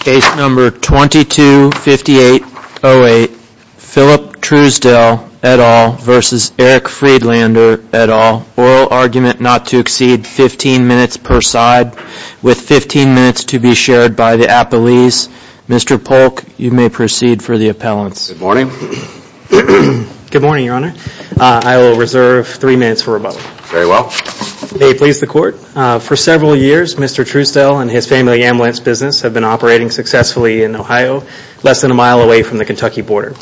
Case number 225808, Philip Truesdell et al. v. Eric Friedlander et al. Oral argument not to exceed 15 minutes per side, with 15 minutes to be shared by the appellees. Mr. Polk, you may proceed for the appellants. Good morning. Good morning, Your Honor. I will reserve three minutes for rebuttal. Very well. May it please the Court, for several years, Mr. Truesdell and his family ambulance business have been operating successfully in Ohio, less than a mile away from the Kentucky border.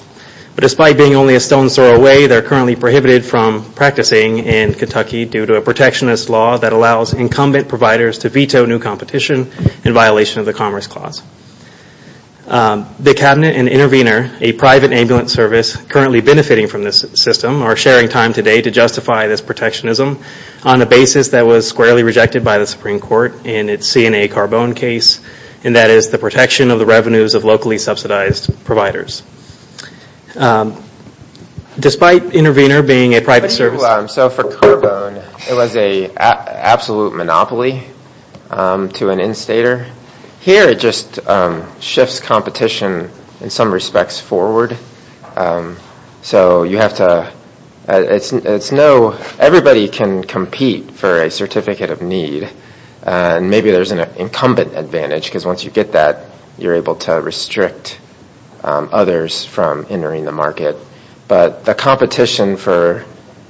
But despite being only a stone's throw away, they are currently prohibited from practicing in Kentucky due to a protectionist law that allows incumbent providers to veto new competition in violation of the Commerce Clause. The Cabinet and Intervenor, a private ambulance service currently benefiting from this system, are sharing time today to justify this protectionism on a basis that was squarely rejected by the Supreme Court in its CNA Carbone case, and that is the protection of the revenues of locally subsidized providers. Despite Intervenor being a private service... So for Carbone, it was an absolute monopoly to an instator. Here it just shifts competition in some respects forward. So you have to... It's no... Everybody can compete for a certificate of need, and maybe there's an incumbent advantage, because once you get that, you're able to restrict others from entering the market. But the competition for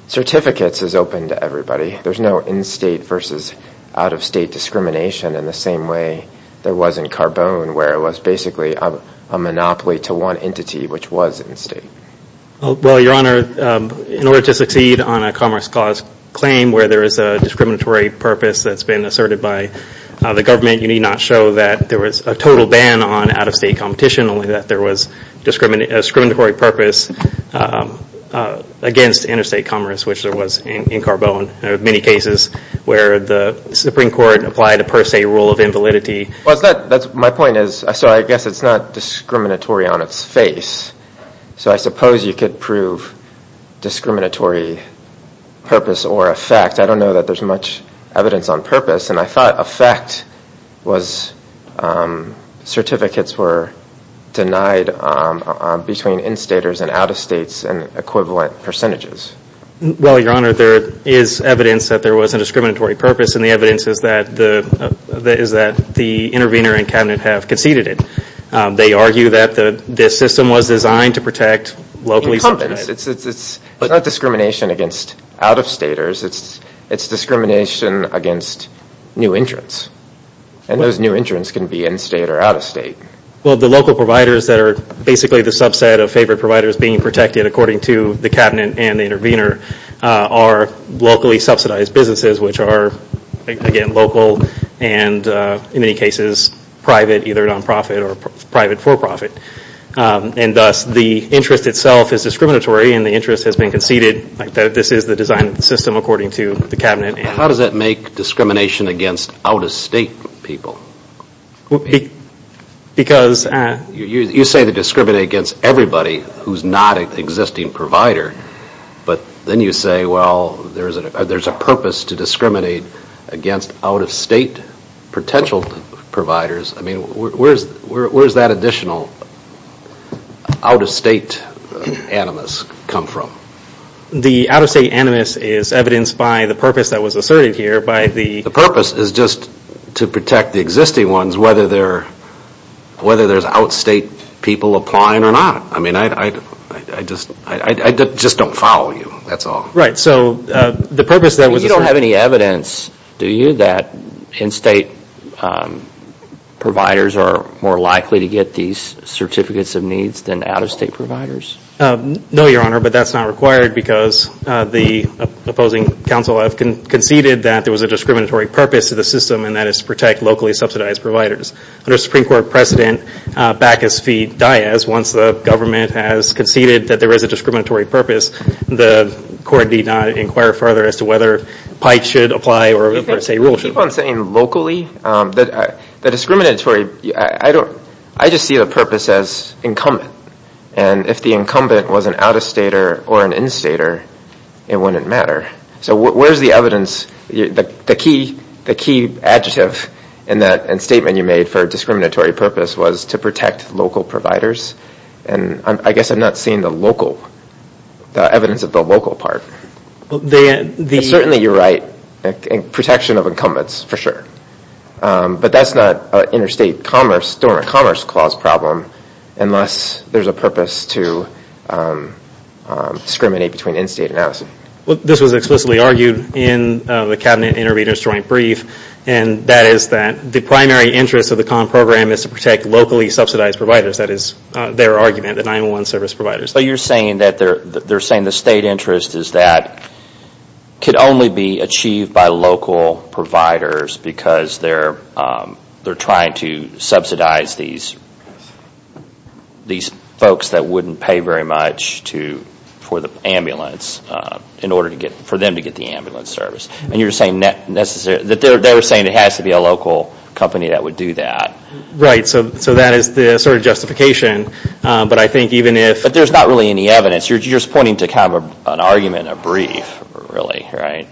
certificates is open to everybody. There's no in-state versus out-of-state discrimination in the same way there was in Carbone, where it was basically a monopoly to one entity, which was in-state. Well, Your Honor, in order to succeed on a Commerce Clause claim where there is a discriminatory purpose that's been asserted by the government, you need not show that there was a total ban on out-of-state competition, only that there was a discriminatory purpose against interstate commerce, which there was in Carbone. There are many cases where the Supreme Court applied a per se rule of invalidity. My point is, so I guess it's not discriminatory on its face. So I suppose you could prove discriminatory purpose or effect. I don't know that there's much evidence on purpose, and I thought effect was certificates were denied between in-staters and out-of-states and equivalent percentages. Well, Your Honor, there is evidence that there was a discriminatory purpose, and the evidence is that the intervener and cabinet have conceded it. They argue that this system was designed to protect locally- It's not discrimination against out-of-staters. It's discrimination against new entrants, and those new entrants can be in-state or out-of-state. Well, the local providers that are basically the subset of favored providers being protected, according to the cabinet and the intervener, are locally subsidized businesses, which are, again, local and, in many cases, private, either non-profit or private for-profit. And thus, the interest itself is discriminatory, and the interest has been conceded. This is the design of the system, according to the cabinet. How does that make discrimination against out-of-state people? Because- You say they discriminate against everybody who's not an existing provider, but then you say, well, there's a purpose to discriminate against out-of-state potential providers. I mean, where does that additional out-of-state animus come from? The out-of-state animus is evidenced by the purpose that was asserted here, by the- The purpose is just to protect the existing ones, whether there's out-of-state people applying or not. I mean, I just don't follow you, that's all. Right, so the purpose that was- You don't have any evidence, do you, that in-state providers are more likely to get these certificates of needs than out-of-state providers? No, Your Honor, but that's not required, because the opposing counsel have conceded that there was a discriminatory purpose to the system, and that is to protect locally subsidized providers. Under Supreme Court precedent, Bacchus v. Diaz, once the government has conceded that there is a discriminatory purpose, the court need not inquire further as to whether Pike should apply or, say, Rule should apply. Okay, keep on saying locally. The discriminatory- I just see the purpose as incumbent, and if the incumbent was an out-of-stater or an in-stater, it wouldn't matter. So where's the evidence? The key adjective and statement you made for discriminatory purpose was to protect local providers, and I guess I'm not seeing the local- the evidence of the local part. Certainly, you're right, protection of incumbents, for sure, but that's not an interstate commerce- dormant commerce clause problem unless there's a purpose to discriminate between in-state and out-of-state. Well, this was explicitly argued in the Cabinet Intervenors Joint Brief, and that is that the primary interest of the common program is to protect locally subsidized providers. That is their argument, the 911 service providers. So you're saying that they're saying the state interest is that it could only be achieved by local providers because they're trying to subsidize these folks that wouldn't pay very much for the ambulance, in order for them to get the ambulance service. And you're saying that they're saying it has to be a local company that would do that. Right, so that is the sort of justification. But I think even if- But there's not really any evidence. You're just pointing to kind of an argument, a brief, really, right?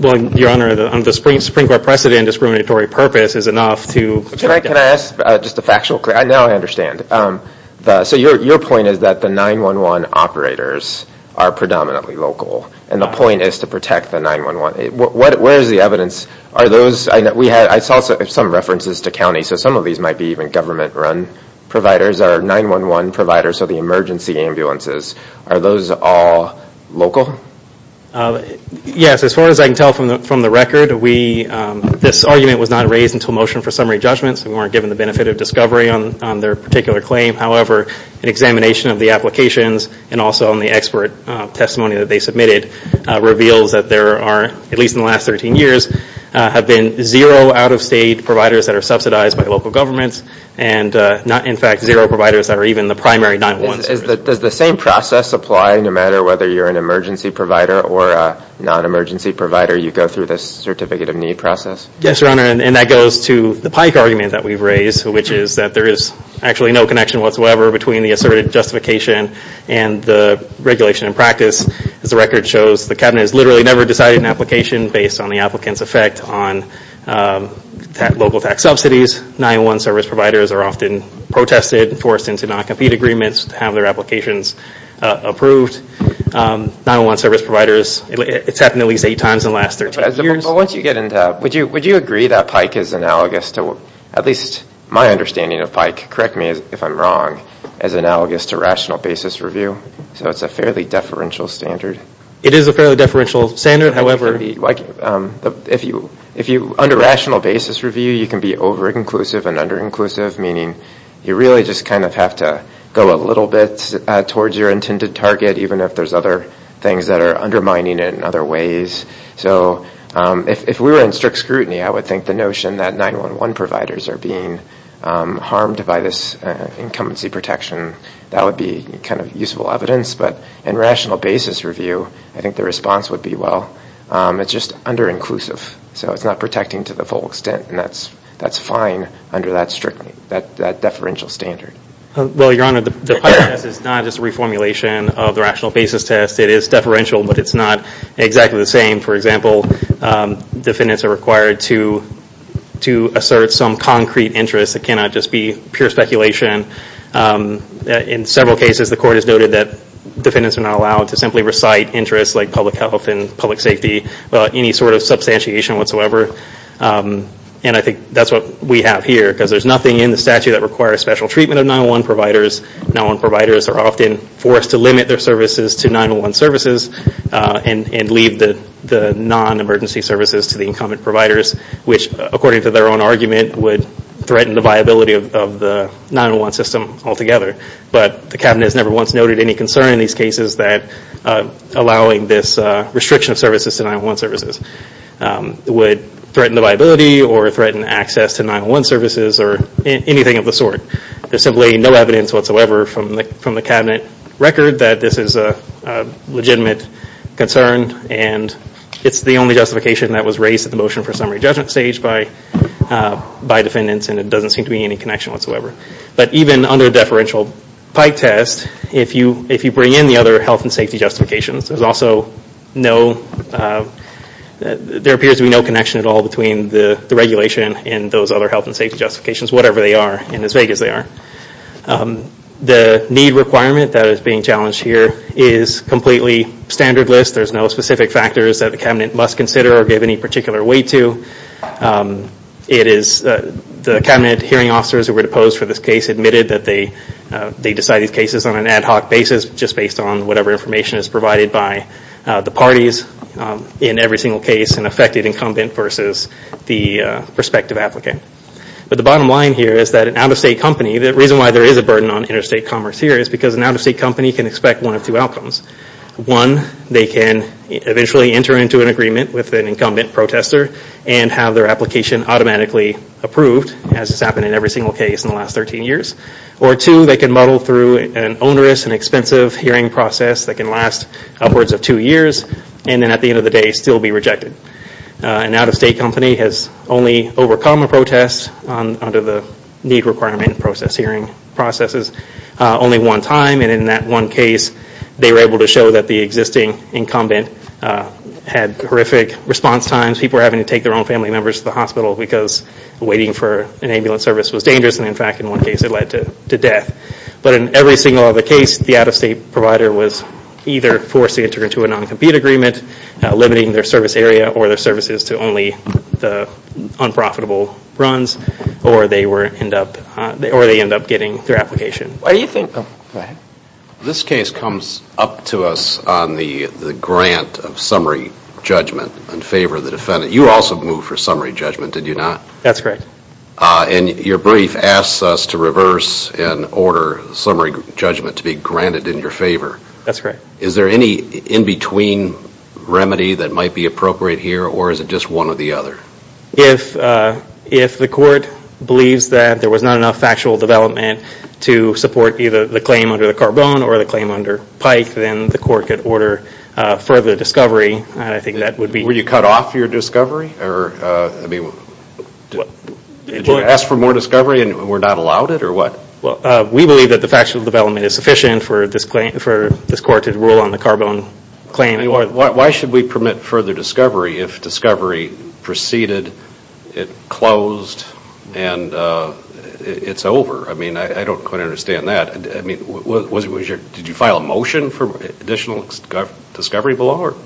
Well, Your Honor, on the Supreme Court precedent, discriminatory purpose is enough to- Can I ask just a factual question? Now I understand. So your point is that the 911 operators are predominantly local, and the point is to protect the 911. Where is the evidence? I saw some references to counties. So some of these might be even government-run providers or 911 providers, so the emergency ambulances. Are those all local? Yes. As far as I can tell from the record, this argument was not raised until motion for summary judgment, so we weren't given the benefit of discovery on their particular claim. However, an examination of the applications and also on the expert testimony that they submitted reveals that there are, at least in the last 13 years, have been zero out-of-state providers that are subsidized by local governments and, in fact, zero providers that are even the primary 911 service. Does the same process apply no matter whether you're an emergency provider or a non-emergency provider? You go through this certificate of need process? Yes, Your Honor, and that goes to the Pike argument that we've raised, which is that there is actually no connection whatsoever between the asserted justification and the regulation in practice. As the record shows, the Cabinet has literally never decided an application based on the applicant's effect on local tax subsidies. 911 service providers are often protested and forced into non-compete agreements to have their applications approved. 911 service providers, it's happened at least eight times in the last 13 years. But once you get into that, would you agree that Pike is analogous to, at least my understanding of Pike, correct me if I'm wrong, as analogous to rational basis review? So it's a fairly deferential standard? It is a fairly deferential standard. If you're under rational basis review, you can be over-inclusive and under-inclusive, meaning you really just kind of have to go a little bit towards your intended target, even if there's other things that are undermining it in other ways. So if we were in strict scrutiny, I would think the notion that 911 providers are being harmed by this incumbency protection, that would be kind of useful evidence. But in rational basis review, I think the response would be, well, it's just under-inclusive, so it's not protecting to the full extent, and that's fine under that deferential standard. Well, Your Honor, the Pike test is not just a reformulation of the rational basis test. It is deferential, but it's not exactly the same. For example, defendants are required to assert some concrete interest. It cannot just be pure speculation. In several cases, the court has noted that defendants are not allowed to simply recite interests like public health and public safety, any sort of substantiation whatsoever. And I think that's what we have here, because there's nothing in the statute that requires special treatment of 911 providers. 911 providers are often forced to limit their services to 911 services and leave the non-emergency services to the incumbent providers, which, according to their own argument, would threaten the viability of the 911 system altogether. But the Cabinet has never once noted any concern in these cases that allowing this restriction of services to 911 services would threaten the viability or threaten access to 911 services or anything of the sort. There's simply no evidence whatsoever from the Cabinet record that this is a legitimate concern, and it's the only justification that was raised at the motion for summary judgment stage by defendants, and there doesn't seem to be any connection whatsoever. But even under a deferential Pike test, if you bring in the other health and safety justifications, there appears to be no connection at all between the regulation and those other health and safety justifications, whatever they are and as vague as they are. The need requirement that is being challenged here is completely standard list. There's no specific factors that the Cabinet must consider or give any particular weight to. The Cabinet hearing officers who were deposed for this case admitted that they decided these cases on an ad hoc basis, just based on whatever information is provided by the parties in every single case, an affected incumbent versus the prospective applicant. But the bottom line here is that an out-of-state company, the reason why there is a burden on interstate commerce here is because an out-of-state company can expect one of two outcomes. One, they can eventually enter into an agreement with an incumbent protester and have their application automatically approved, as has happened in every single case in the last 13 years. Or two, they can muddle through an onerous and expensive hearing process that can last upwards of two years and then at the end of the day still be rejected. An out-of-state company has only overcome a protest under the need requirement hearing processes only one time and in that one case they were able to show that the existing incumbent had horrific response times. People were having to take their own family members to the hospital because waiting for an ambulance service was dangerous and in fact in one case it led to death. But in every single other case, the out-of-state provider was either forced to enter into a non-compete agreement limiting their service area or their services to only the unprofitable runs or they end up getting their application. This case comes up to us on the grant of summary judgment in favor of the defendant. You also moved for summary judgment, did you not? That's correct. And your brief asks us to reverse and order summary judgment to be granted in your favor. That's correct. Is there any in-between remedy that might be appropriate here or is it just one or the other? If the court believes that there was not enough factual development to support either the claim under the Carbone or the claim under Pike, then the court could order further discovery and I think that would be... Did you cut off your discovery? Did you ask for more discovery and were not allowed it or what? We believe that the factual development is sufficient for this court to rule on the Carbone claim. Why should we permit further discovery if discovery proceeded, it closed, and it's over? I don't quite understand that. Did you file a motion for additional discovery below?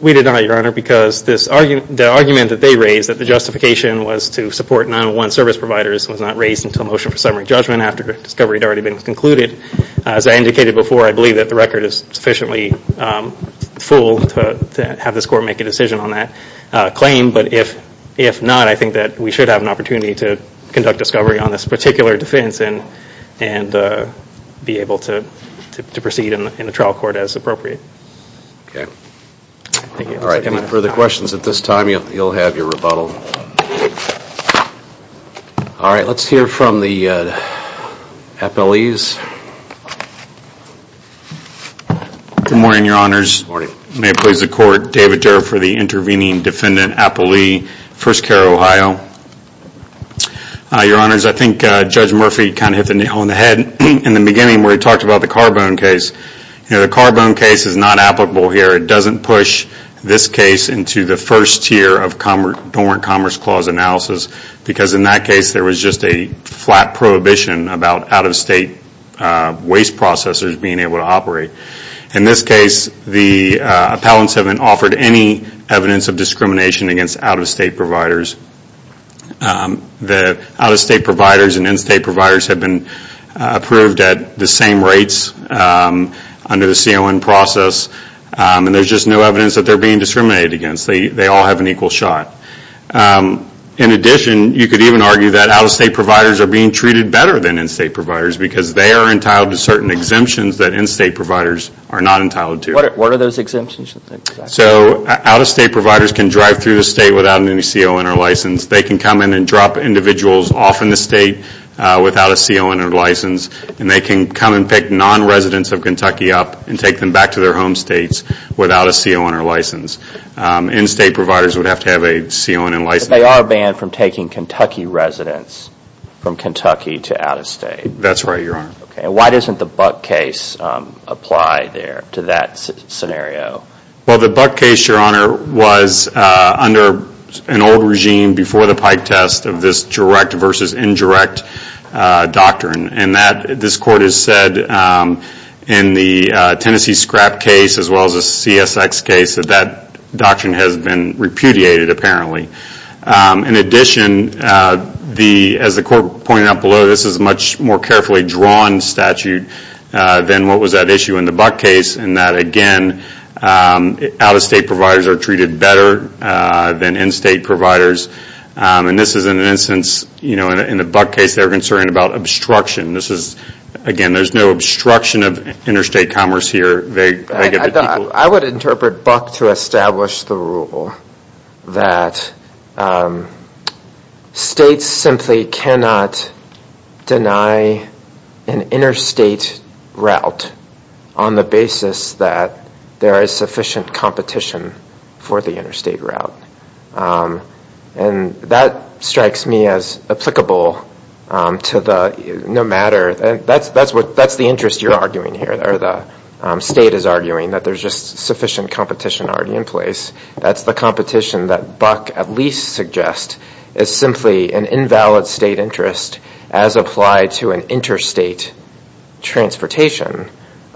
We did not, Your Honor, because the argument that they raised that the justification was to support 9-1-1 service providers was not raised until motion for summary judgment after discovery had already been concluded. As I indicated before, I believe that the record is sufficiently full to have this court make a decision on that claim. But if not, I think that we should have an opportunity to conduct discovery on this particular defense and be able to proceed in the trial court as appropriate. Okay. Any further questions at this time, you'll have your rebuttal. All right, let's hear from the appellees. Good morning, Your Honors. May it please the Court, David Durr for the Intervening Defendant Appellee, First Care Ohio. Your Honors, I think Judge Murphy kind of hit the nail on the head in the beginning where he talked about the Carbone case. The Carbone case is not applicable here. It doesn't push this case into the first tier of dormant commerce clause analysis because in that case there was just a flat prohibition about out-of-state waste processors being able to operate. In this case, the appellants haven't offered any evidence of discrimination against out-of-state providers. The out-of-state providers and in-state providers have been approved at the same rates under the CON process. And there's just no evidence that they're being discriminated against. They all have an equal shot. In addition, you could even argue that out-of-state providers are being treated better than in-state providers because they are entitled to certain exemptions that in-state providers are not entitled to. What are those exemptions? So out-of-state providers can drive through the state without any CON or license. They can come in and drop individuals off in the state without a CON or license. And they can come and pick non-residents of Kentucky up and take them back to their home states without a CON or license. In-state providers would have to have a CON and license. But they are banned from taking Kentucky residents from Kentucky to out-of-state. That's right, Your Honor. And why doesn't the Buck case apply there to that scenario? Well, the Buck case, Your Honor, was under an old regime before the Pike test of this direct versus indirect doctrine. And this court has said in the Tennessee scrap case as well as the CSX case that that doctrine has been repudiated apparently. In addition, as the court pointed out below, this is a much more carefully drawn statute than what was at issue in the Buck case. And that, again, out-of-state providers are treated better than in-state providers. And this is an instance, you know, in the Buck case they were concerned about obstruction. This is, again, there's no obstruction of interstate commerce here. I would interpret Buck to establish the rule that states simply cannot deny an interstate route on the basis that there is sufficient competition for the interstate route. And that strikes me as applicable to the no matter. That's the interest you're arguing here, or the state is arguing, that there's just sufficient competition already in place. That's the competition that Buck at least suggests is simply an invalid state interest as applied to an interstate transportation.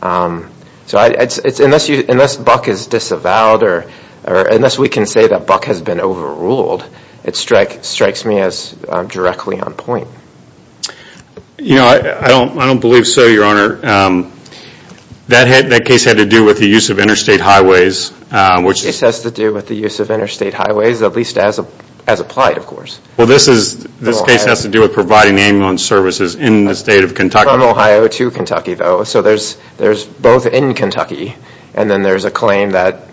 So unless Buck is disavowed or unless we can say that Buck has been overruled, it strikes me as directly on point. You know, I don't believe so, Your Honor. That case had to do with the use of interstate highways. This has to do with the use of interstate highways, at least as applied, of course. Well, this case has to do with providing ambulance services in the state of Kentucky. Not from Ohio to Kentucky, though. So there's both in Kentucky and then there's a claim that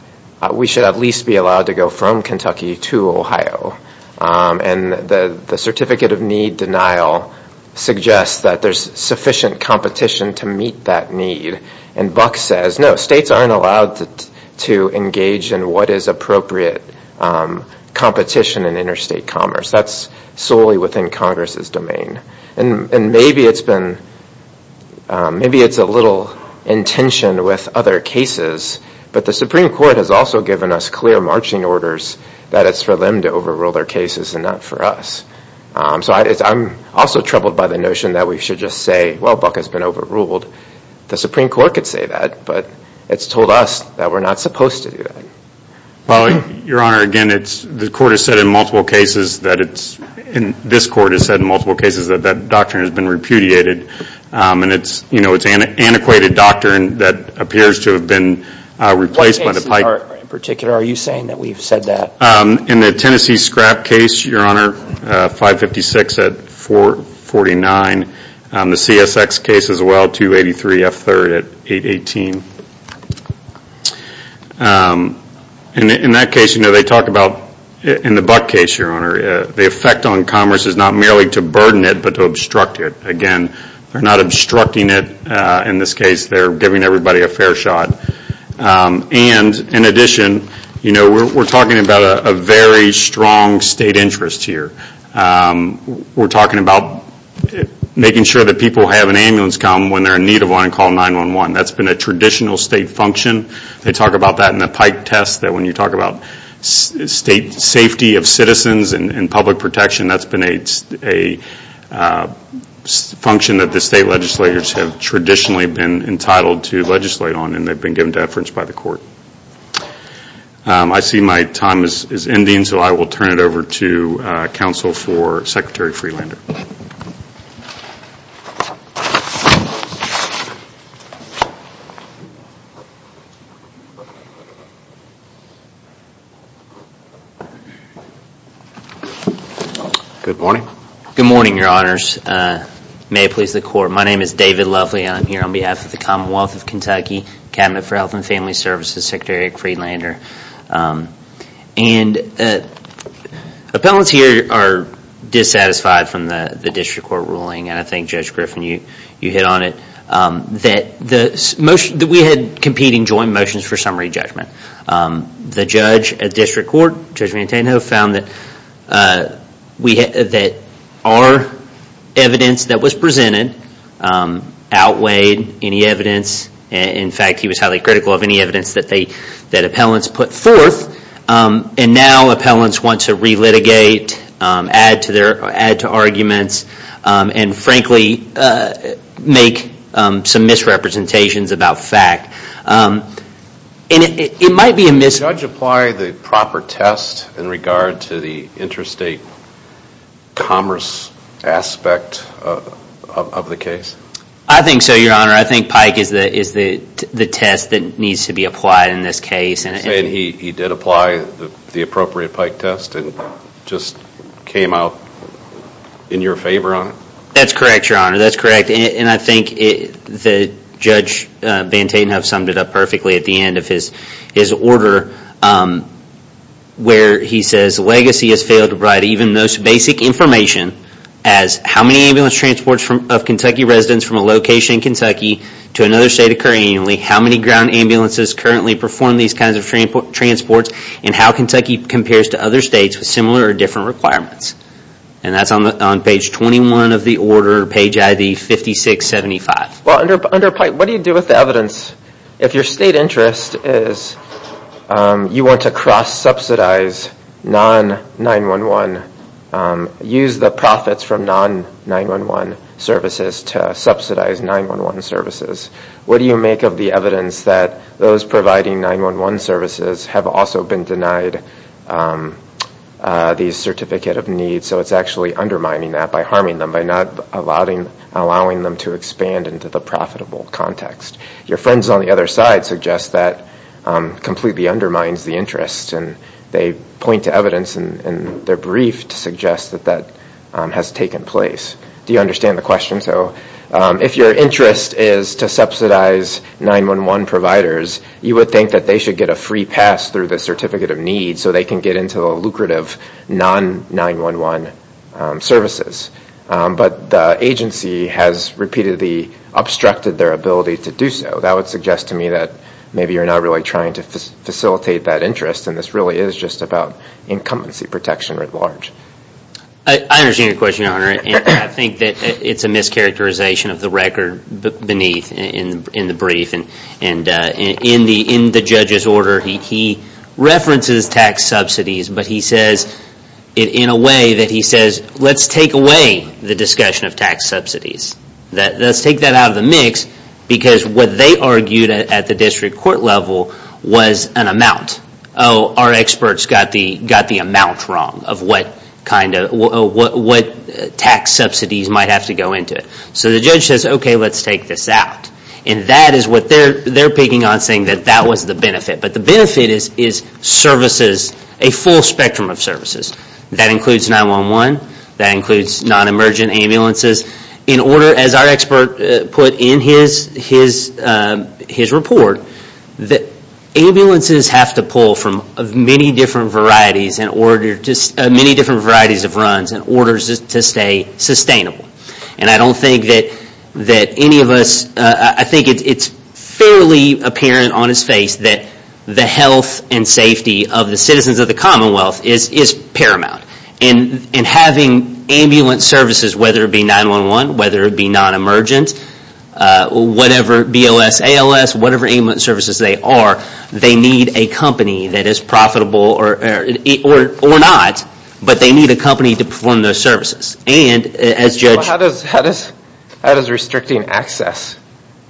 we should at least be allowed to go from Kentucky to Ohio. And the certificate of need denial suggests that there's sufficient competition to meet that need. And Buck says, no, states aren't allowed to engage in what is appropriate competition in interstate commerce. That's solely within Congress's domain. And maybe it's been, maybe it's a little in tension with other cases, but the Supreme Court has also given us clear marching orders that it's for them to overrule their cases and not for us. So I'm also troubled by the notion that we should just say, well, Buck has been overruled. The Supreme Court could say that, but it's told us that we're not supposed to do that. Well, Your Honor, again, the court has said in multiple cases that it's, this court has said in multiple cases that that doctrine has been repudiated. And it's antiquated doctrine that appears to have been replaced by the pipe. What cases in particular are you saying that we've said that? In the Tennessee scrap case, Your Honor, 556 at 449. The CSX case as well, 283 F3rd at 818. In that case, you know, they talk about, in the Buck case, Your Honor, the effect on commerce is not merely to burden it, but to obstruct it. Again, they're not obstructing it in this case. They're giving everybody a fair shot. And in addition, you know, we're talking about a very strong state interest here. We're talking about making sure that people have an ambulance come when they're in need of one and call 911. That's been a traditional state function. They talk about that in the pipe test, that when you talk about state safety of citizens and public protection, that's been a function that the state legislators have traditionally been entitled to legislate on, and they've been given to efforts by the court. I see my time is ending, so I will turn it over to counsel for Secretary Freelander. Good morning. Good morning, Your Honors. May it please the court, my name is David Lovely, and I'm here on behalf of the Commonwealth of Kentucky Cabinet for Health and Family Services, Secretary Freelander. And appellants here are dissatisfied from the district court ruling, and I think Judge Griffin, you hit on it, that we had competing joint motions for summary judgment. The judge at district court, Judge Manteno, found that our evidence that was presented outweighed any evidence. In fact, he was highly critical of any evidence that appellants put forth. And now appellants want to re-litigate, add to arguments, and frankly make some misrepresentations about fact. And it might be a mis- I think so, Your Honor. I think Pike is the test that needs to be applied in this case. And he did apply the appropriate Pike test and just came out in your favor on it? That's correct, Your Honor. That's correct. And I think Judge Manteno summed it up perfectly at the end of his order, where he says, even those basic information as how many ambulance transports of Kentucky residents from a location in Kentucky to another state occur annually, how many ground ambulances currently perform these kinds of transports, and how Kentucky compares to other states with similar or different requirements. And that's on page 21 of the order, page ID 5675. Well, under Pike, what do you do with the evidence? If your state interest is you want to cross-subsidize non-9-1-1, use the profits from non-9-1-1 services to subsidize 9-1-1 services, what do you make of the evidence that those providing 9-1-1 services have also been denied the certificate of need, so it's actually undermining that by harming them, by not allowing them to expand into the profitable context? Your friends on the other side suggest that completely undermines the interest, and they point to evidence in their brief to suggest that that has taken place. Do you understand the question? So if your interest is to subsidize 9-1-1 providers, you would think that they should get a free pass through the certificate of need so they can get into the lucrative non-9-1-1 services. But the agency has repeatedly obstructed their ability to do so. That would suggest to me that maybe you're not really trying to facilitate that interest, and this really is just about incumbency protection at large. I understand your question, Your Honor, and I think that it's a mischaracterization of the record beneath in the brief. And in the judge's order, he references tax subsidies, but he says it in a way that he says, let's take away the discussion of tax subsidies. Let's take that out of the mix, because what they argued at the district court level was an amount. Oh, our experts got the amount wrong of what tax subsidies might have to go into it. So the judge says, okay, let's take this out. And that is what they're picking on, saying that that was the benefit. But the benefit is services, a full spectrum of services. That includes 9-1-1. That includes non-emergent ambulances. In order, as our expert put in his report, that ambulances have to pull from many different varieties of runs in order to stay sustainable. And I don't think that any of us, I think it's fairly apparent on his face that the health and safety of the citizens of the Commonwealth is paramount. And having ambulance services, whether it be 9-1-1, whether it be non-emergent, whatever, BLS, ALS, whatever ambulance services they are, they need a company that is profitable or not, but they need a company to perform those services. How does restricting access?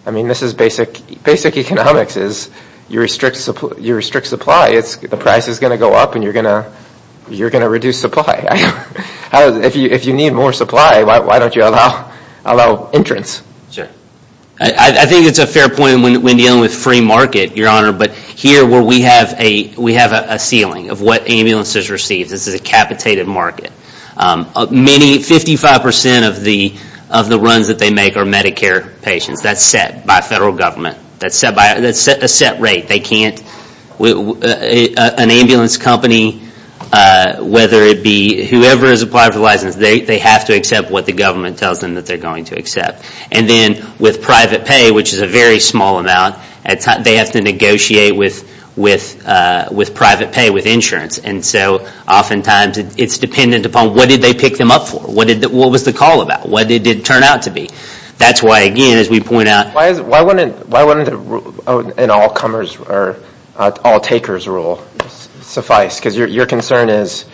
I mean, basic economics is you restrict supply, the price is going to go up and you're going to reduce supply. If you need more supply, why don't you allow entrance? I think it's a fair point when dealing with free market, Your Honor. But here we have a ceiling of what ambulances receive. This is a capitated market. Many, 55% of the runs that they make are Medicare patients. That's set by federal government. That's a set rate. They can't, an ambulance company, whether it be whoever has applied for a license, they have to accept what the government tells them that they're going to accept. And then with private pay, which is a very small amount, they have to negotiate with private pay, with insurance. And so oftentimes it's dependent upon what did they pick them up for? What was the call about? What did it turn out to be? That's why, again, as we point out— Why wouldn't an all-takers rule suffice? Because your concern is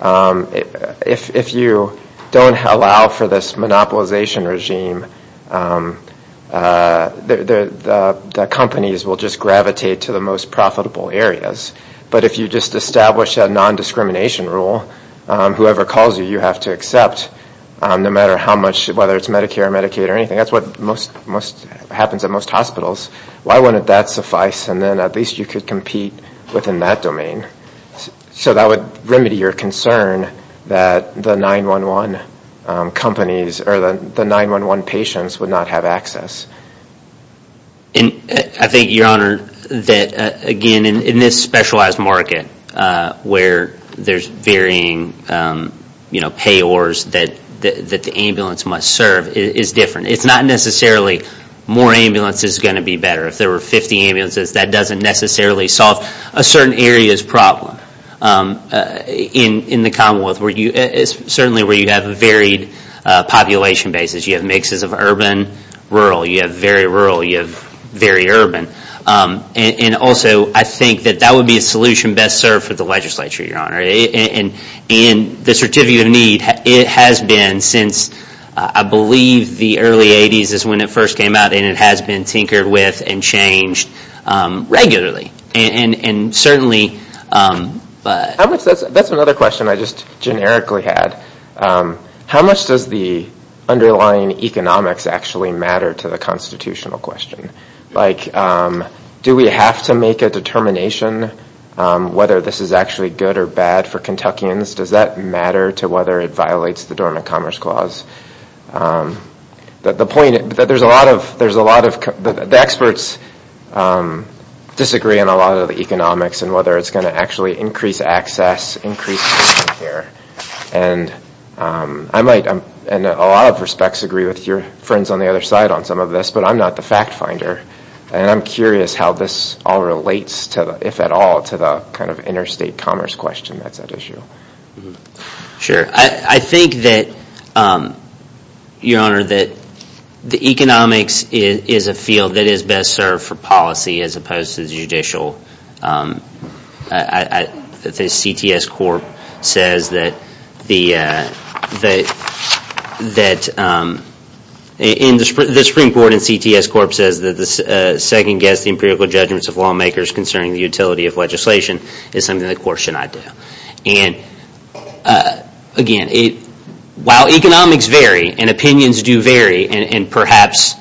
if you don't allow for this monopolization regime, the companies will just gravitate to the most profitable areas. But if you just establish a nondiscrimination rule, whoever calls you, you have to accept, no matter how much, whether it's Medicare or Medicaid or anything. That's what happens at most hospitals. Why wouldn't that suffice? And then at least you could compete within that domain. So that would remedy your concern that the 911 companies or the 911 patients would not have access. And I think, Your Honor, that, again, in this specialized market where there's varying payors that the ambulance must serve is different. It's not necessarily more ambulance is going to be better. If there were 50 ambulances, that doesn't necessarily solve a certain area's problem. In the Commonwealth, certainly where you have a varied population basis, you have mixes of urban, rural. You have very rural. You have very urban. And also, I think that that would be a solution best served for the legislature, Your Honor. And the Certificate of Need, it has been since, I believe, the early 80s is when it first came out, and it has been tinkered with and changed regularly. And certainly, but... That's another question I just generically had. How much does the underlying economics actually matter to the constitutional question? Like, do we have to make a determination whether this is actually good or bad for Kentuckians? Does that matter to whether it violates the Dormant Commerce Clause? The point is that there's a lot of... The experts disagree on a lot of the economics and whether it's going to actually increase access, increase income here. And I might, in a lot of respects, agree with your friends on the other side on some of this, but I'm not the fact finder. And I'm curious how this all relates, if at all, to the kind of interstate commerce question that's at issue. Sure. I think that, Your Honor, that the economics is a field that is best served for policy as opposed to the judicial. The CTS Corp says that... The Supreme Court and CTS Corp says that second-guess the empirical judgments of lawmakers concerning the utility of legislation is something the Court should not do. And, again, while economics vary and opinions do vary, and perhaps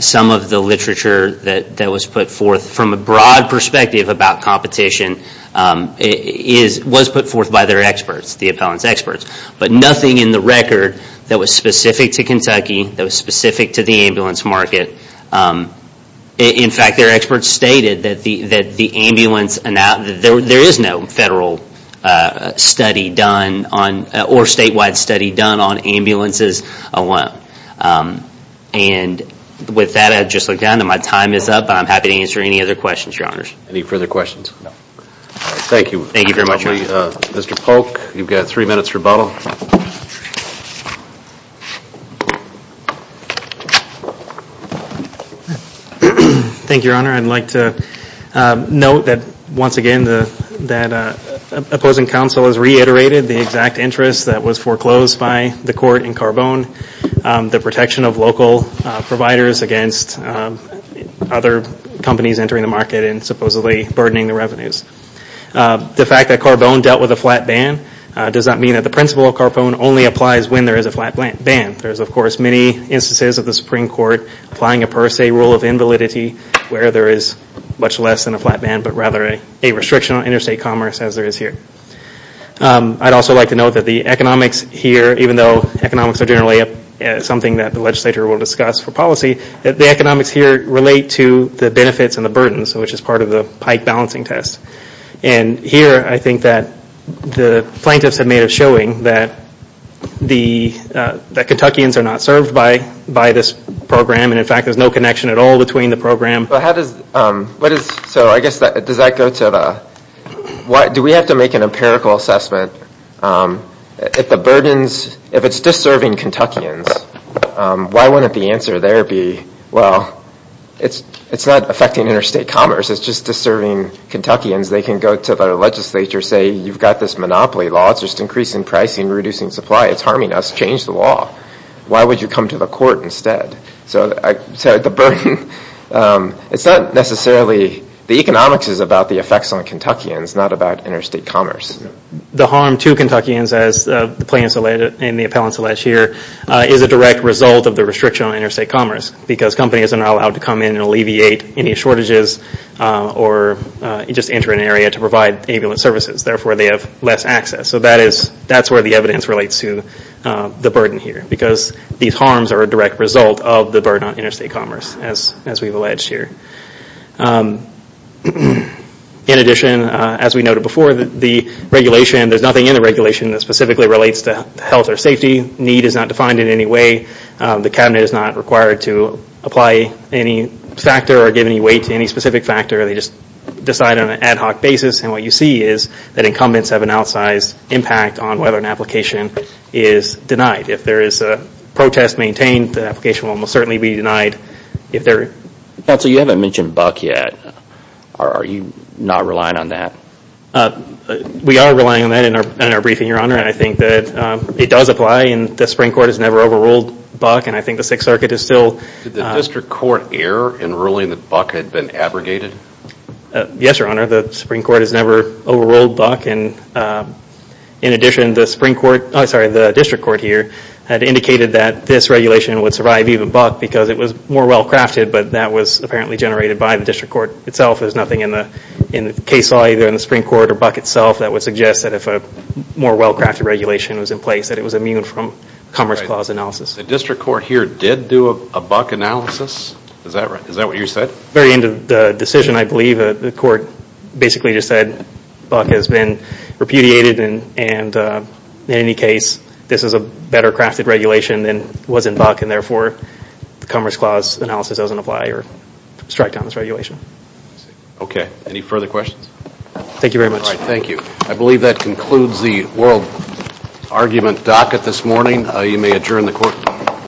some of the literature that was put forth from a broad perspective about competition was put forth by their experts, the appellants' experts, but nothing in the record that was specific to Kentucky, that was specific to the ambulance market. In fact, their experts stated that the ambulance... There is no federal study done or statewide study done on ambulances alone. And with that, I'd just like to add that my time is up and I'm happy to answer any other questions, Your Honors. Any further questions? No. Thank you. Thank you very much, Your Honor. Mr. Polk, you've got three minutes rebuttal. Thank you, Your Honor. I'd like to note that, once again, that opposing counsel has reiterated the exact interest that was foreclosed by the Court in Carbone, the protection of local providers against other companies entering the market and supposedly burdening the revenues. The fact that Carbone dealt with a flat ban does not mean that the principle of Carbone only applies when there is a flat ban. There's, of course, many instances of the Supreme Court applying a per se rule of invalidity where there is much less than a flat ban, but rather a restriction on interstate commerce, as there is here. I'd also like to note that the economics here, even though economics are generally something that the legislature will discuss for policy, the economics here relate to the benefits and the burdens, which is part of the Pike balancing test. Here, I think that the plaintiffs have made a showing that Kentuckians are not served by this program, and, in fact, there's no connection at all between the program. Do we have to make an empirical assessment? If it's disserving Kentuckians, why wouldn't the answer there be, well, it's not affecting interstate commerce, it's just disserving Kentuckians, they can go to the legislature and say, you've got this monopoly law, it's just increasing pricing and reducing supply, it's harming us, change the law. Why would you come to the court instead? So the burden, it's not necessarily, the economics is about the effects on Kentuckians, not about interstate commerce. The harm to Kentuckians, as the plaintiffs and the appellants allege here, is a direct result of the restriction on interstate commerce, because companies are not allowed to come in and alleviate any shortages, or just enter an area to provide ambulance services, therefore they have less access. So that's where the evidence relates to the burden here, because these harms are a direct result of the burden on interstate commerce, as we've alleged here. In addition, as we noted before, the regulation, there's nothing in the regulation that specifically relates to health or safety, need is not defined in any way, the cabinet is not required to apply any factor or give any weight to any specific factor, they just decide on an ad hoc basis, and what you see is that incumbents have an outsized impact on whether an application is denied. If there is a protest maintained, the application will most certainly be denied. Counsel, you haven't mentioned Buck yet. Are you not relying on that? We are relying on that in our briefing, Your Honor, and I think that it does apply, and the Supreme Court has never overruled Buck, and I think the Sixth Circuit is still... Did the district court err in ruling that Buck had been abrogated? Yes, Your Honor, the Supreme Court has never overruled Buck, and in addition, the Supreme Court, sorry, the district court here, had indicated that this regulation would survive even Buck, because it was more well-crafted, but that was apparently generated by the district court itself, and there's nothing in the case law, either in the Supreme Court or Buck itself, that would suggest that if a more well-crafted regulation was in place, that it was immune from Commerce Clause analysis. The district court here did do a Buck analysis? Is that right? Is that what you said? At the very end of the decision, I believe, the court basically just said, Buck has been repudiated, and in any case, this is a better-crafted regulation than was in Buck, and therefore the Commerce Clause analysis doesn't apply or strike down this regulation. Okay. Any further questions? Thank you very much. All right, thank you. I believe that concludes the world argument docket this morning. You may adjourn the court.